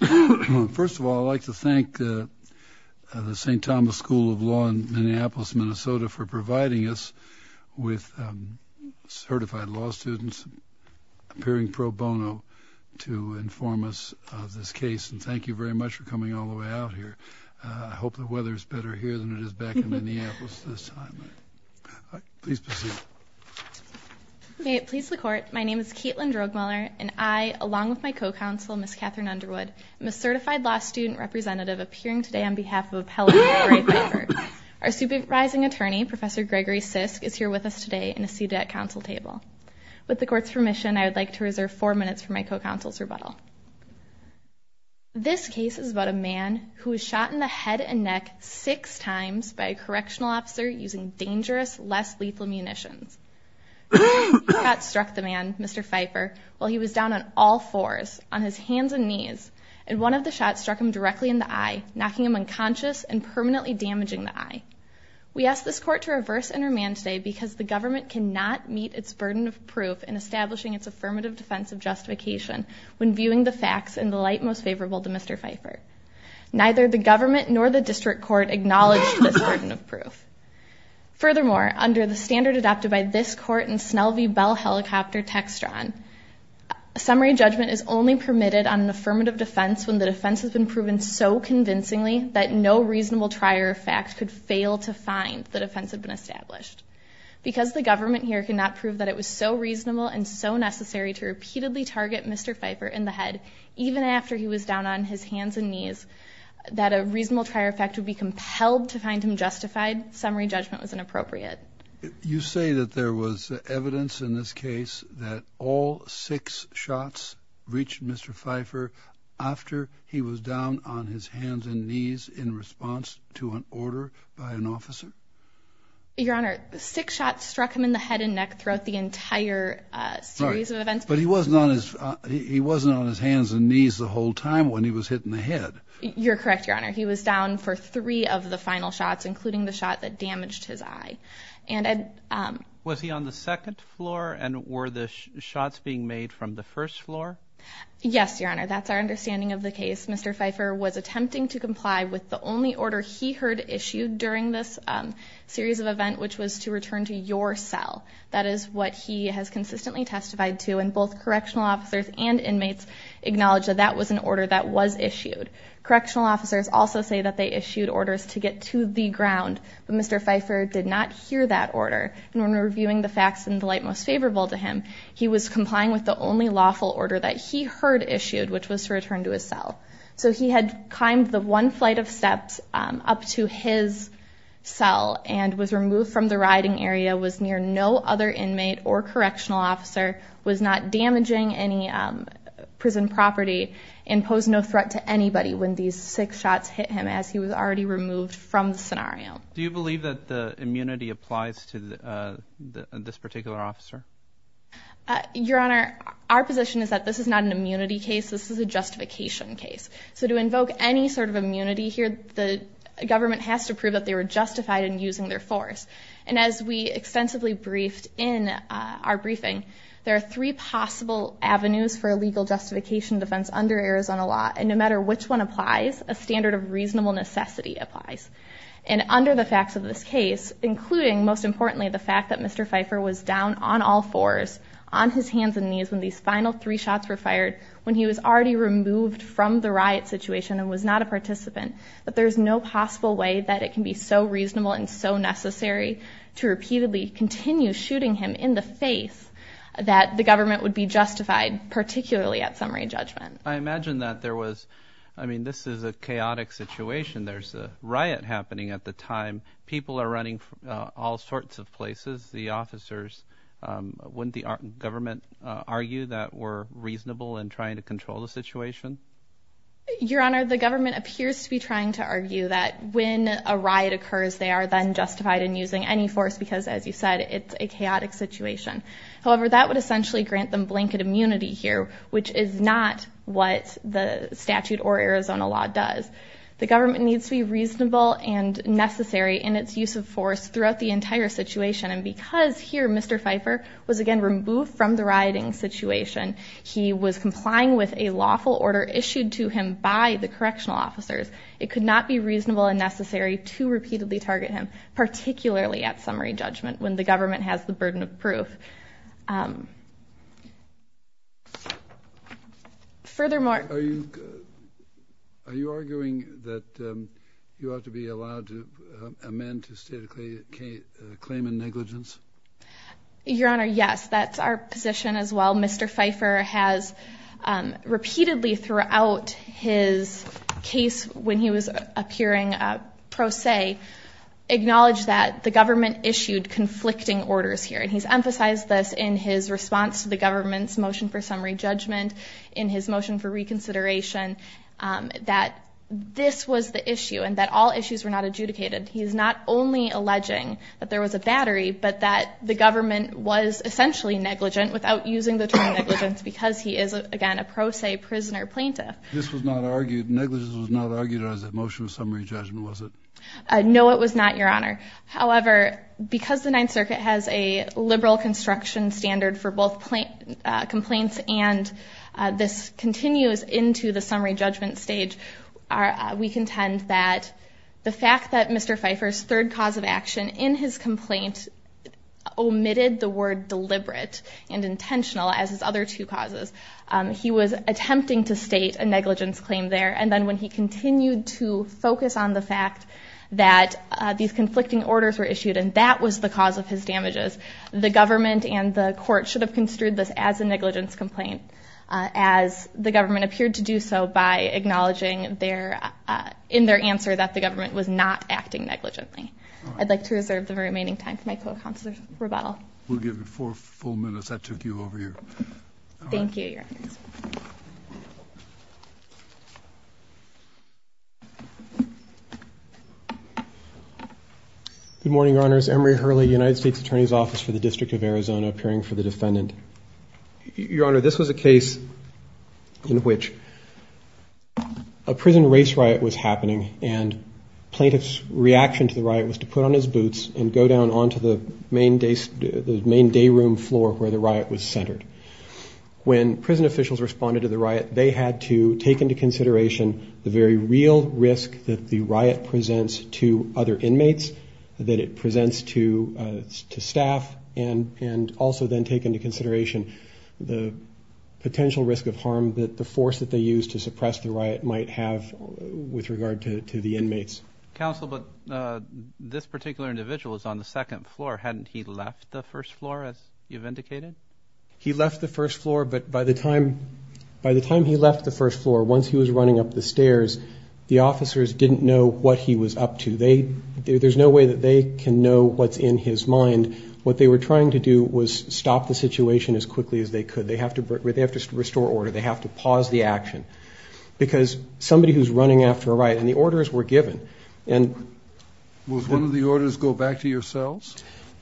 First of all, I'd like to thank the St. Thomas School of Law in Minneapolis, Minnesota for providing us with certified law students, appearing pro bono, to inform us of this case. And thank you very much for coming all the way out here. I hope the weather is better here than it is back in Minneapolis this time. Please proceed. May it please the Court, my name is Kaitlin Drogmuller, and I, along with my co-counsel, Ms. Catherine Underwood, am a certified law student representative appearing today on behalf of Appellate Oray Fifer. Our supervising attorney, Professor Gregory Sisk, is here with us today and is seated at council table. With the Court's permission, I would like to reserve four minutes for my co-counsel's rebuttal. This case is about a man who was shot in the head and neck six times by a correctional officer using dangerous, less lethal munitions. Two shots struck the man, Mr. Fifer, while he was down on all fours, on his hands and knees, and one of the shots struck him directly in the eye, knocking him unconscious and permanently damaging the eye. We ask this Court to reverse and remand today because the government cannot meet its burden of proof in establishing its affirmative defense of justification when viewing the facts in the light most favorable to Mr. Fifer. Neither the government nor the district court acknowledged this burden of proof. Furthermore, under the standard adopted by this Court in Snell v. Bell Helicopter Textron, summary judgment is only permitted on an affirmative defense when the defense has been proven so convincingly that no reasonable trier of fact could fail to find the defense had been established. Because the government here could not prove that it was so reasonable and so necessary to repeatedly target Mr. Fifer in the head, even after he was down on his hands and knees, that a reasonable trier of fact would be compelled to find him justified, summary judgment was inappropriate. You say that there was evidence in this case that all six shots reached Mr. Fifer after he was down on his hands and knees in response to an order by an officer? Your Honor, six shots struck him in the head and neck throughout the entire series of events. But he wasn't on his hands and knees the whole time when he was hit in the head. You're correct, Your Honor. He was down for three of the final shots, including the shot that damaged his eye. Was he on the second floor and were the shots being made from the first floor? Yes, Your Honor. That's our understanding of the case. Mr. Fifer was attempting to comply with the only order he heard issued during this series of events, which was to return to your cell. That is what he has consistently testified to, and both correctional officers and inmates acknowledge that that was an order that was issued. Correctional officers also say that they issued orders to get to the ground, but Mr. Fifer did not hear that order. And when reviewing the facts in the light most favorable to him, he was complying with the only lawful order that he heard issued, which was to return to his cell. So he had climbed the one flight of steps up to his cell and was removed from the riding area, was near no other inmate or correctional officer, was not damaging any prison property, and posed no threat to anybody when these six shots hit him as he was already removed from the scenario. Do you believe that the immunity applies to this particular officer? Your Honor, our position is that this is not an immunity case. This is a justification case. So to invoke any sort of immunity here, the government has to prove that they were justified in using their force. And as we extensively briefed in our briefing, there are three possible avenues for a legal justification defense under Arizona law. And no matter which one applies, a standard of reasonable necessity applies. And under the facts of this case, including most importantly the fact that Mr. Fifer was down on all fours, on his hands and knees when these final three shots were fired, when he was already removed from the riot situation and was not a participant, that there is no possible way that it can be so reasonable and so necessary to repeatedly continue shooting him in the face that the government would be justified, particularly at summary judgment. I imagine that there was, I mean, this is a chaotic situation. There's a riot happening at the time. People are running from all sorts of places. The officers, wouldn't the government argue that we're reasonable in trying to control the situation? Your Honor, the government appears to be trying to argue that when a riot occurs, they are then justified in using any force because, as you said, it's a chaotic situation. However, that would essentially grant them blanket immunity here, which is not what the statute or Arizona law does. The government needs to be reasonable and necessary in its use of force throughout the entire situation. And because here Mr. Fifer was again removed from the rioting situation, he was complying with a lawful order issued to him by the correctional officers. It could not be reasonable and necessary to repeatedly target him, particularly at summary judgment when the government has the burden of proof. Furthermore, are you are you arguing that you ought to be allowed to amend to state a claim in negligence? Your Honor, yes, that's our position as well. Mr. Fifer has repeatedly throughout his case when he was appearing pro se, acknowledged that the government issued conflicting orders here. And he's emphasized this in his response to the government's motion for summary judgment in his motion for reconsideration that this was the issue and that all issues were not adjudicated. He is not only alleging that there was a battery, but that the government was essentially negligent without using the term negligence because he is, again, a pro se prisoner plaintiff. This was not argued. Negligence was not argued as a motion of summary judgment, was it? Your Honor, however, because the Ninth Circuit has a liberal construction standard for both complaints and this continues into the summary judgment stage, we contend that the fact that Mr. Fifer's third cause of action in his complaint omitted the word deliberate and intentional as his other two causes. He was attempting to state a negligence claim there and then when he continued to focus on the fact that these conflicting orders were issued and that was the cause of his damages, the government and the court should have construed this as a negligence complaint as the government appeared to do so by acknowledging in their answer that the government was not acting negligently. I'd like to reserve the remaining time for my co-counselor's rebuttal. We'll give you four full minutes. That took you over here. Thank you, Your Honor. Good morning, Your Honors. Emory Hurley, United States Attorney's Office for the District of Arizona, appearing for the defendant. Your Honor, this was a case in which a prison race riot was happening and plaintiff's reaction to the riot was to put on his boots and go down onto the main day room floor where the riot was centered. When prison officials responded to the riot, they had to take into consideration the very real risk that the riot presents to other inmates, that it presents to staff, and also then take into consideration the potential risk of harm that the force that they used to suppress the riot might have with regard to the inmates. Counsel, but this particular individual is on the second floor. Hadn't he left the first floor, as you've indicated? He left the first floor, but by the time he left the first floor, once he was running up the stairs, the officers didn't know what he was up to. There's no way that they can know what's in his mind. What they were trying to do was stop the situation as quickly as they could. They have to restore order. They have to pause the action because somebody who's running after a riot, and the orders were given. Was one of the orders go back to your cells?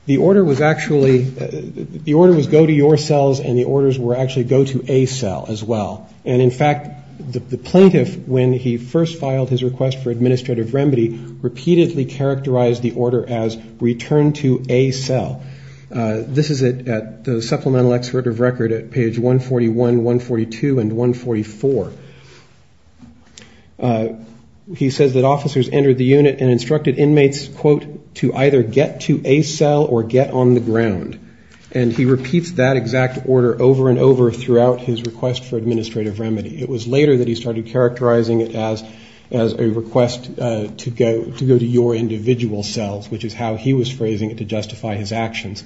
The order was actually, the order was go to your cells, and the orders were actually go to a cell as well. And in fact, the plaintiff, when he first filed his request for administrative remedy, repeatedly characterized the order as return to a cell. This is at the supplemental excerpt of record at page 141, 142, and 144. He says that officers entered the unit and instructed inmates, quote, to either get to a cell or get on the ground. And he repeats that exact order over and over throughout his request for administrative remedy. It was later that he started characterizing it as a request to go to your individual cells, which is how he was phrasing it to justify his actions.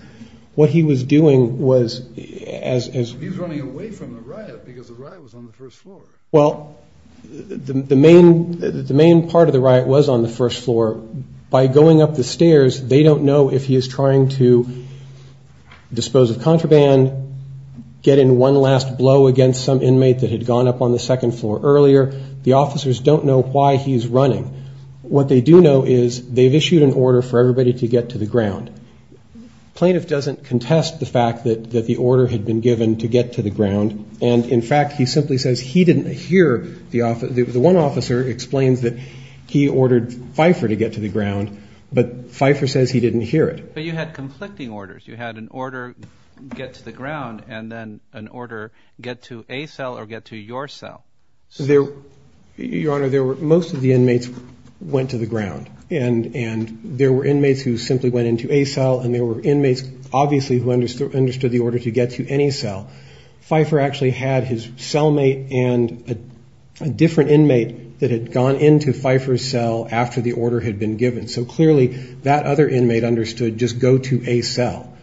What he was doing was as he was running away from the riot because the riot was on the first floor. Well, the main part of the riot was on the first floor. By going up the stairs, they don't know if he is trying to dispose of contraband, get in one last blow against some inmate that had gone up on the second floor earlier. The officers don't know why he's running. What they do know is they've issued an order for everybody to get to the ground. The plaintiff doesn't contest the fact that the order had been given to get to the ground. And, in fact, he simply says he didn't hear the officer. The one officer explains that he ordered Pfeiffer to get to the ground, but Pfeiffer says he didn't hear it. But you had conflicting orders. You had an order, get to the ground, and then an order, get to a cell or get to your cell. Your Honor, most of the inmates went to the ground. And there were inmates who simply went into a cell, and there were inmates obviously who understood the order to get to any cell. Pfeiffer actually had his cellmate and a different inmate that had gone into Pfeiffer's cell after the order had been given. So, clearly, that other inmate understood just go to a cell.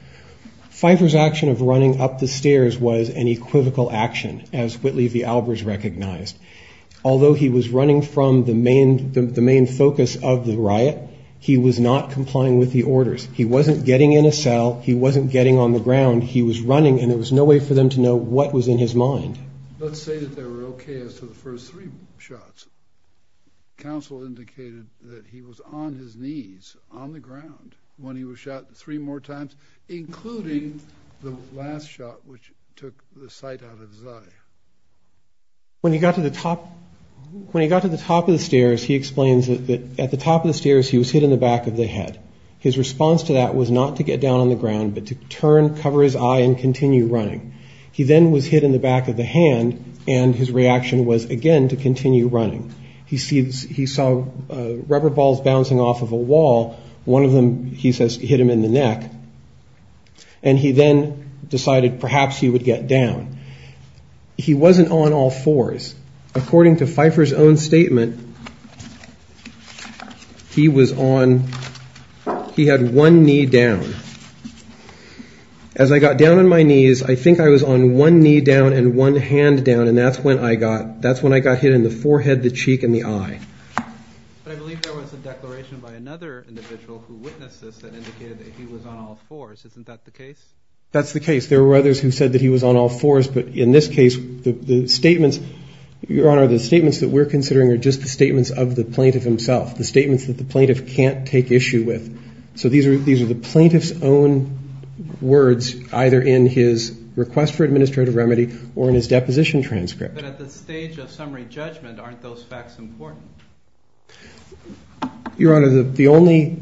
Pfeiffer's action of running up the stairs was an equivocal action, as Whitley v. Albers recognized. Although he was running from the main focus of the riot, he was not complying with the orders. He wasn't getting in a cell. He wasn't getting on the ground. He was running, and there was no way for them to know what was in his mind. Let's say that they were okay as to the first three shots. Counsel indicated that he was on his knees on the ground when he was shot three more times, including the last shot, which took the sight out of his eye. When he got to the top of the stairs, he explains that at the top of the stairs, he was hit in the back of the head. His response to that was not to get down on the ground, but to turn, cover his eye, and continue running. He then was hit in the back of the hand, and his reaction was again to continue running. He saw rubber balls bouncing off of a wall. One of them, he says, hit him in the neck, and he then decided perhaps he would get down. He wasn't on all fours. According to Pfeiffer's own statement, he was on, he had one knee down. As I got down on my knees, I think I was on one knee down and one hand down, and that's when I got, that's when I got hit in the forehead, the cheek, and the eye. But I believe there was a declaration by another individual who witnessed this that indicated that he was on all fours. Isn't that the case? That's the case. There were others who said that he was on all fours, but in this case, the statements, Your Honor, the statements that we're considering are just the statements of the plaintiff himself, the statements that the plaintiff can't take issue with. So these are the plaintiff's own words, either in his request for administrative remedy or in his deposition transcript. But at the stage of summary judgment, aren't those facts important? Your Honor, the only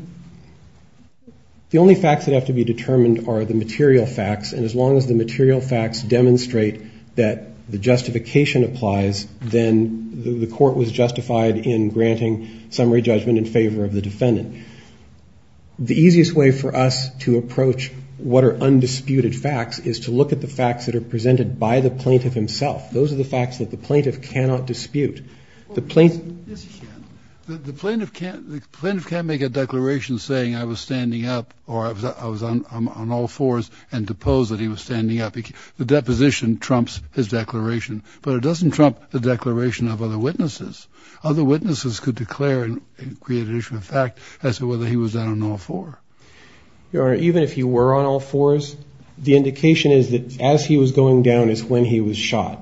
facts that have to be determined are the material facts, and as long as the material facts demonstrate that the justification applies, then the court was justified in granting summary judgment in favor of the defendant. The easiest way for us to approach what are undisputed facts is to look at the facts that are presented by the plaintiff himself. Those are the facts that the plaintiff cannot dispute. Yes, he can. The plaintiff can't make a declaration saying, I was standing up or I was on all fours and deposed that he was standing up. The deposition trumps his declaration, but it doesn't trump the declaration of other witnesses. Other witnesses could declare and create an issue of fact as to whether he was on all fours. Your Honor, even if he were on all fours, the indication is that as he was going down is when he was shot.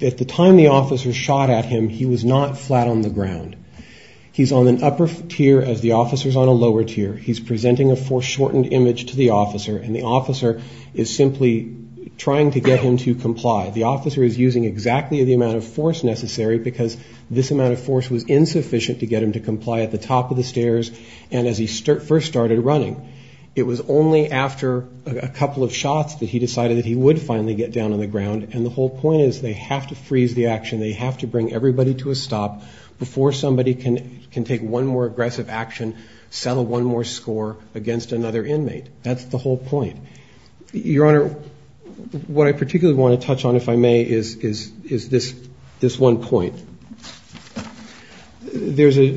At the time the officer shot at him, he was not flat on the ground. He's on an upper tier as the officer's on a lower tier. He's presenting a foreshortened image to the officer, and the officer is simply trying to get him to comply. The officer is using exactly the amount of force necessary, because this amount of force was insufficient to get him to comply at the top of the stairs and as he first started running. It was only after a couple of shots that he decided that he would finally get down on the ground, and the whole point is they have to freeze the action. They have to bring everybody to a stop before somebody can take one more aggressive action, settle one more score against another inmate. That's the whole point. Your Honor, what I particularly want to touch on, if I may, is this one point. There's a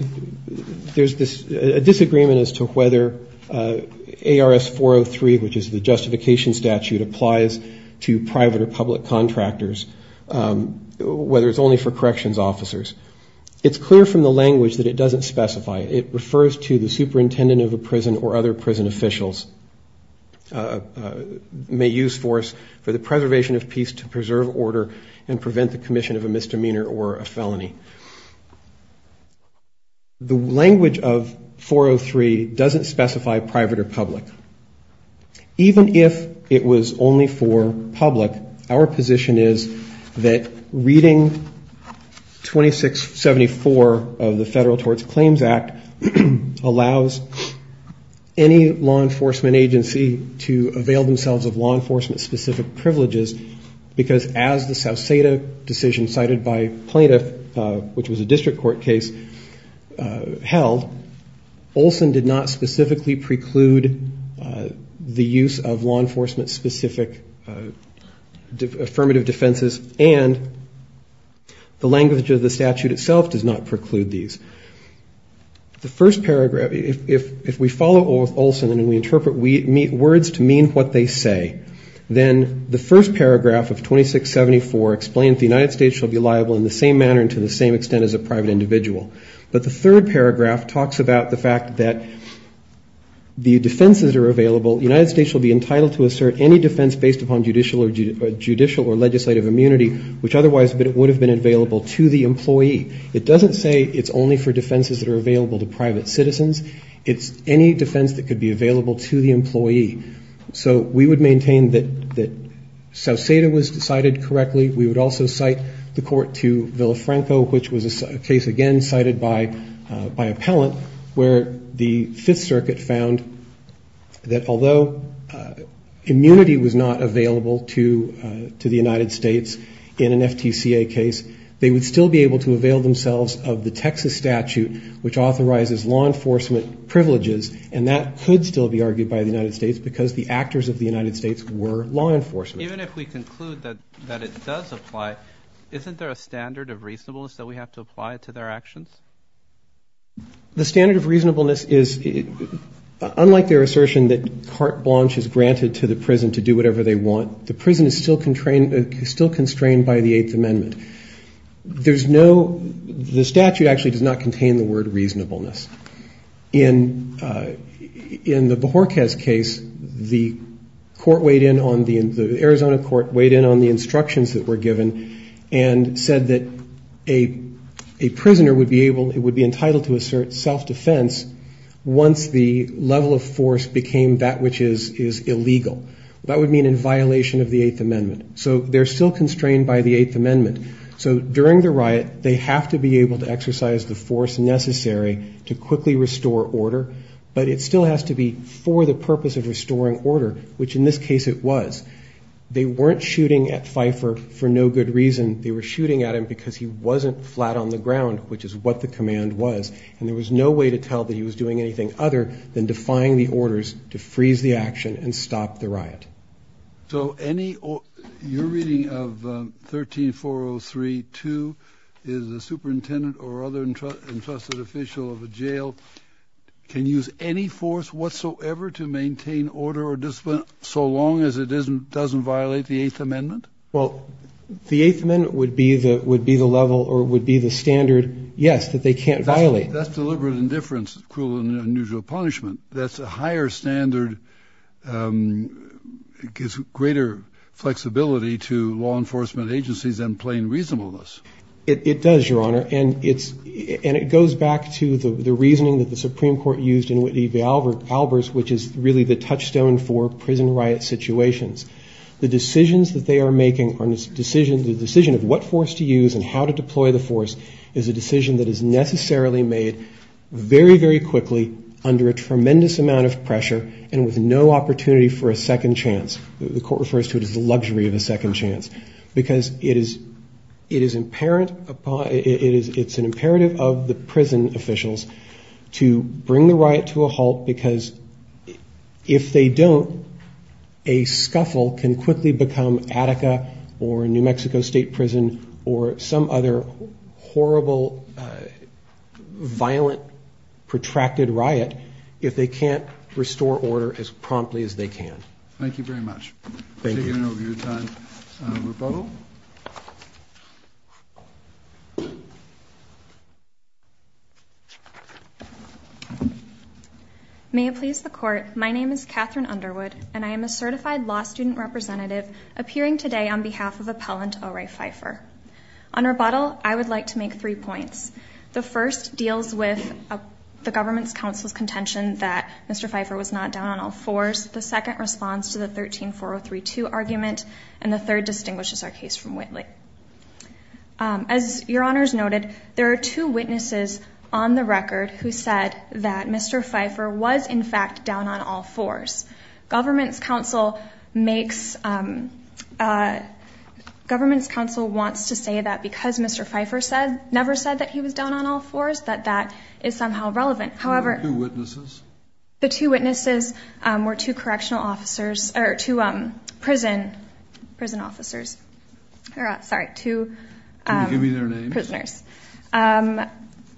disagreement as to whether ARS 403, which is the justification statute, applies to private or public contractors, whether it's only for corrections officers. It's clear from the language that it doesn't specify. It refers to the superintendent of a prison or other prison officials may use force for the preservation of peace to preserve order and prevent the commission of a misdemeanor or a felony. The language of 403 doesn't specify private or public. Even if it was only for public, our position is that reading 2674 of the Federal Torts Claims Act allows any law enforcement agency to avail themselves of law enforcement-specific privileges, because as the South Seda decision cited by plaintiff, which was a district court case, held, Olson did not specifically preclude the use of law enforcement-specific affirmative defenses, and the language of the statute itself does not preclude these. The first paragraph, if we follow Olson and we interpret words to mean what they say, then the first paragraph of 2674 explains the United States shall be liable in the same manner and to the same extent as a private individual. But the third paragraph talks about the fact that the defenses are available. The United States shall be entitled to assert any defense based upon judicial or legislative immunity, which otherwise would have been available to the employee. It doesn't say it's only for defenses that are available to private citizens. It's any defense that could be available to the employee. So we would maintain that South Seda was decided correctly. We would also cite the court to Villafranco, which was a case, again, cited by appellant, where the Fifth Circuit found that although immunity was not available to the United States in an FTCA case, they would still be able to avail themselves of the Texas statute, which authorizes law enforcement privileges, and that could still be argued by the United States because the actors of the United States were law enforcement. Even if we conclude that it does apply, isn't there a standard of reasonableness that we have to apply to their actions? The standard of reasonableness is, unlike their assertion that carte blanche is granted to the prison to do whatever they want, the prison is still constrained by the Eighth Amendment. There's no the statute actually does not contain the word reasonableness. In the Bajorquez case, the court weighed in on the Arizona court weighed in on the instructions that were given and said that a prisoner would be entitled to assert self-defense once the level of force became that which is illegal. That would mean in violation of the Eighth Amendment. So they're still constrained by the Eighth Amendment. So during the riot, they have to be able to exercise the force necessary to quickly restore order, but it still has to be for the purpose of restoring order, which in this case it was. They weren't shooting at Pfeiffer for no good reason. They were shooting at him because he wasn't flat on the ground, which is what the command was, and there was no way to tell that he was doing anything other than defying the orders to freeze the action and stop the riot. So your reading of 13-403-2 is the superintendent or other entrusted official of a jail can use any force whatsoever to maintain order or discipline so long as it doesn't violate the Eighth Amendment? Well, the Eighth Amendment would be the standard, yes, that they can't violate. That's deliberate indifference, cruel and unusual punishment. That's a higher standard. It gives greater flexibility to law enforcement agencies than plain reasonableness. It does, Your Honor, and it goes back to the reasoning that the Supreme Court used in Whitney v. Albers, which is really the touchstone for prison riot situations. The decisions that they are making, the decision of what force to use and how to deploy the force is a decision that is necessarily made very, very quickly under a tremendous amount of pressure and with no opportunity for a second chance. The Court refers to it as the luxury of a second chance, because it is an imperative of the prison officials to bring the riot to a halt because if they don't, a scuffle can quickly become Attica or New Mexico State Prison or some other horrible, violent, protracted riot if they can't restore order as promptly as they can. Thank you very much. May it please the Court, my name is Catherine Underwood and I am a certified law student representative appearing today on behalf of Appellant O. Ray Pfeiffer. On rebuttal, I would like to make three points. The first deals with the government's counsel's contention that Mr. Pfeiffer was not down on all fours, the second responds to the 13-4032 argument, and the third distinguishes our case from Whitley. As Your Honors noted, there are two witnesses on the record who said that Mr. Pfeiffer was in fact down on all fours. Government's counsel wants to say that because Mr. Pfeiffer never said that he was down on all fours, that that is somehow relevant. The two witnesses were two prison officers. Sorry, two prisoners.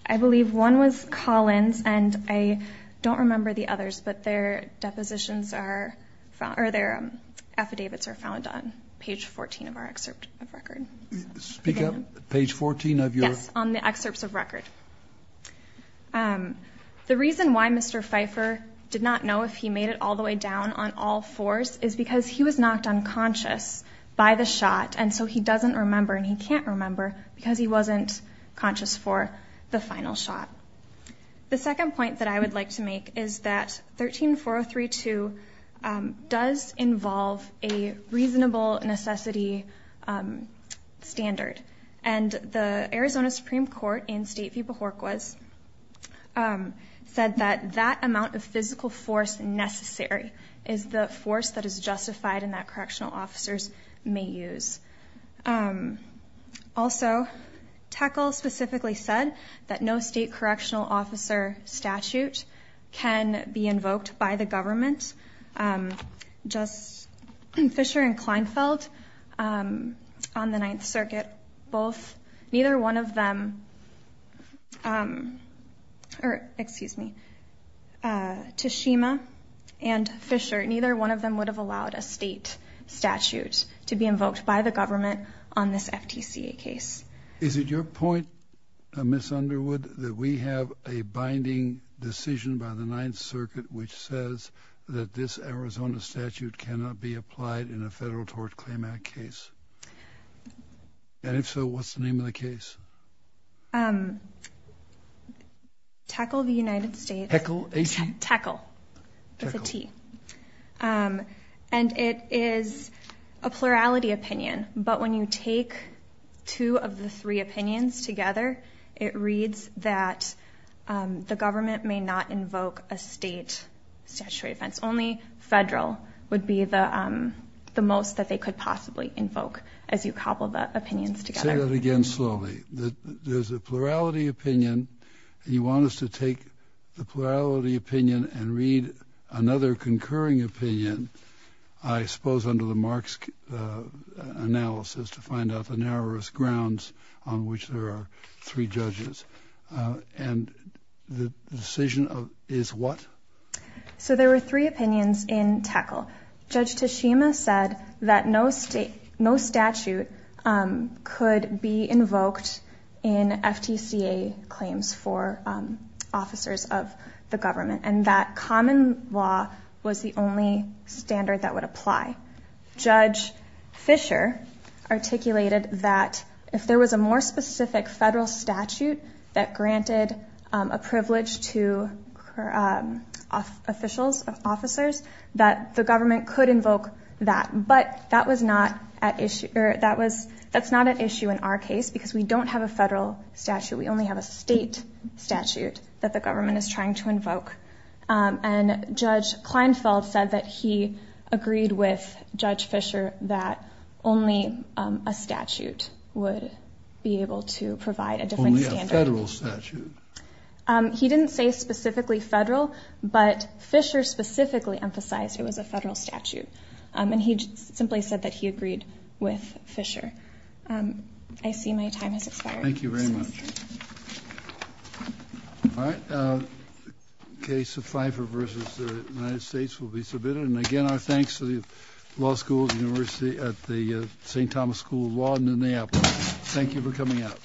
I believe one was Collins and I don't remember the others, but their depositions are found, or their affidavits are found on page 14 of our excerpt of record. Speak up, page 14 of your? Yes, on the excerpts of record. The reason why Mr. Pfeiffer did not know if he made it all the way down on all fours is because he was knocked unconscious by the shot, and so he doesn't remember, and he can't remember because he wasn't conscious for the final shot. The second point that I would like to make is that 13-4032 does involve a reasonable necessity standard, and the Arizona Supreme Court in State v. Bajorquas said that that amount of physical force necessary is the force that is justified in that correctional officers may use. Also, TECL specifically said that no state correctional officer statute can be invoked by the government. Just Fisher and Kleinfeld on the Ninth Circuit, neither one of them, or excuse me, Tashima and Fisher, neither one of them would have allowed a state statute to be invoked by the government on this FTCA case. Is it your point, Ms. Underwood, that we have a binding decision by the Ninth Circuit which says that this Arizona statute cannot be applied in a federal tort claim act case? And if so, what's the name of the case? TECL, the United States. And it is a plurality opinion, but when you take two of the three opinions together, it reads that the government may not invoke a state statutory offense. Only federal would be the most that they could possibly invoke as you cobble the opinions together. Say that again slowly. There's a plurality opinion, and you want us to take the plurality opinion and read another concurring opinion, I suppose under the Marx analysis, to find out the narrowest grounds on which there are concurring opinions. And the decision is what? So there were three opinions in TECL. Judge Tashima said that no statute could be invoked in FTCA claims for officers of the government, and that common law was the only standard that would apply. Judge Fisher articulated that if there was a more specific federal statute that granted a privilege to officials, officers, that the government could invoke that. But that's not at issue in our case because we don't have a federal statute. We only have a state statute that the government is trying to invoke. And Judge Kleinfeld said that he agreed with Judge Fisher that only a statute would be able to provide a different standard. Only a federal statute. He didn't say specifically federal, but Fisher specifically emphasized it was a federal statute. And he simply said that he agreed with Fisher. I see my time has expired. All right. Case of Pfeiffer v. The United States will be submitted. And again, our thanks to the law school, the university at the St. Thomas School of Law in Minneapolis. Thank you for coming out.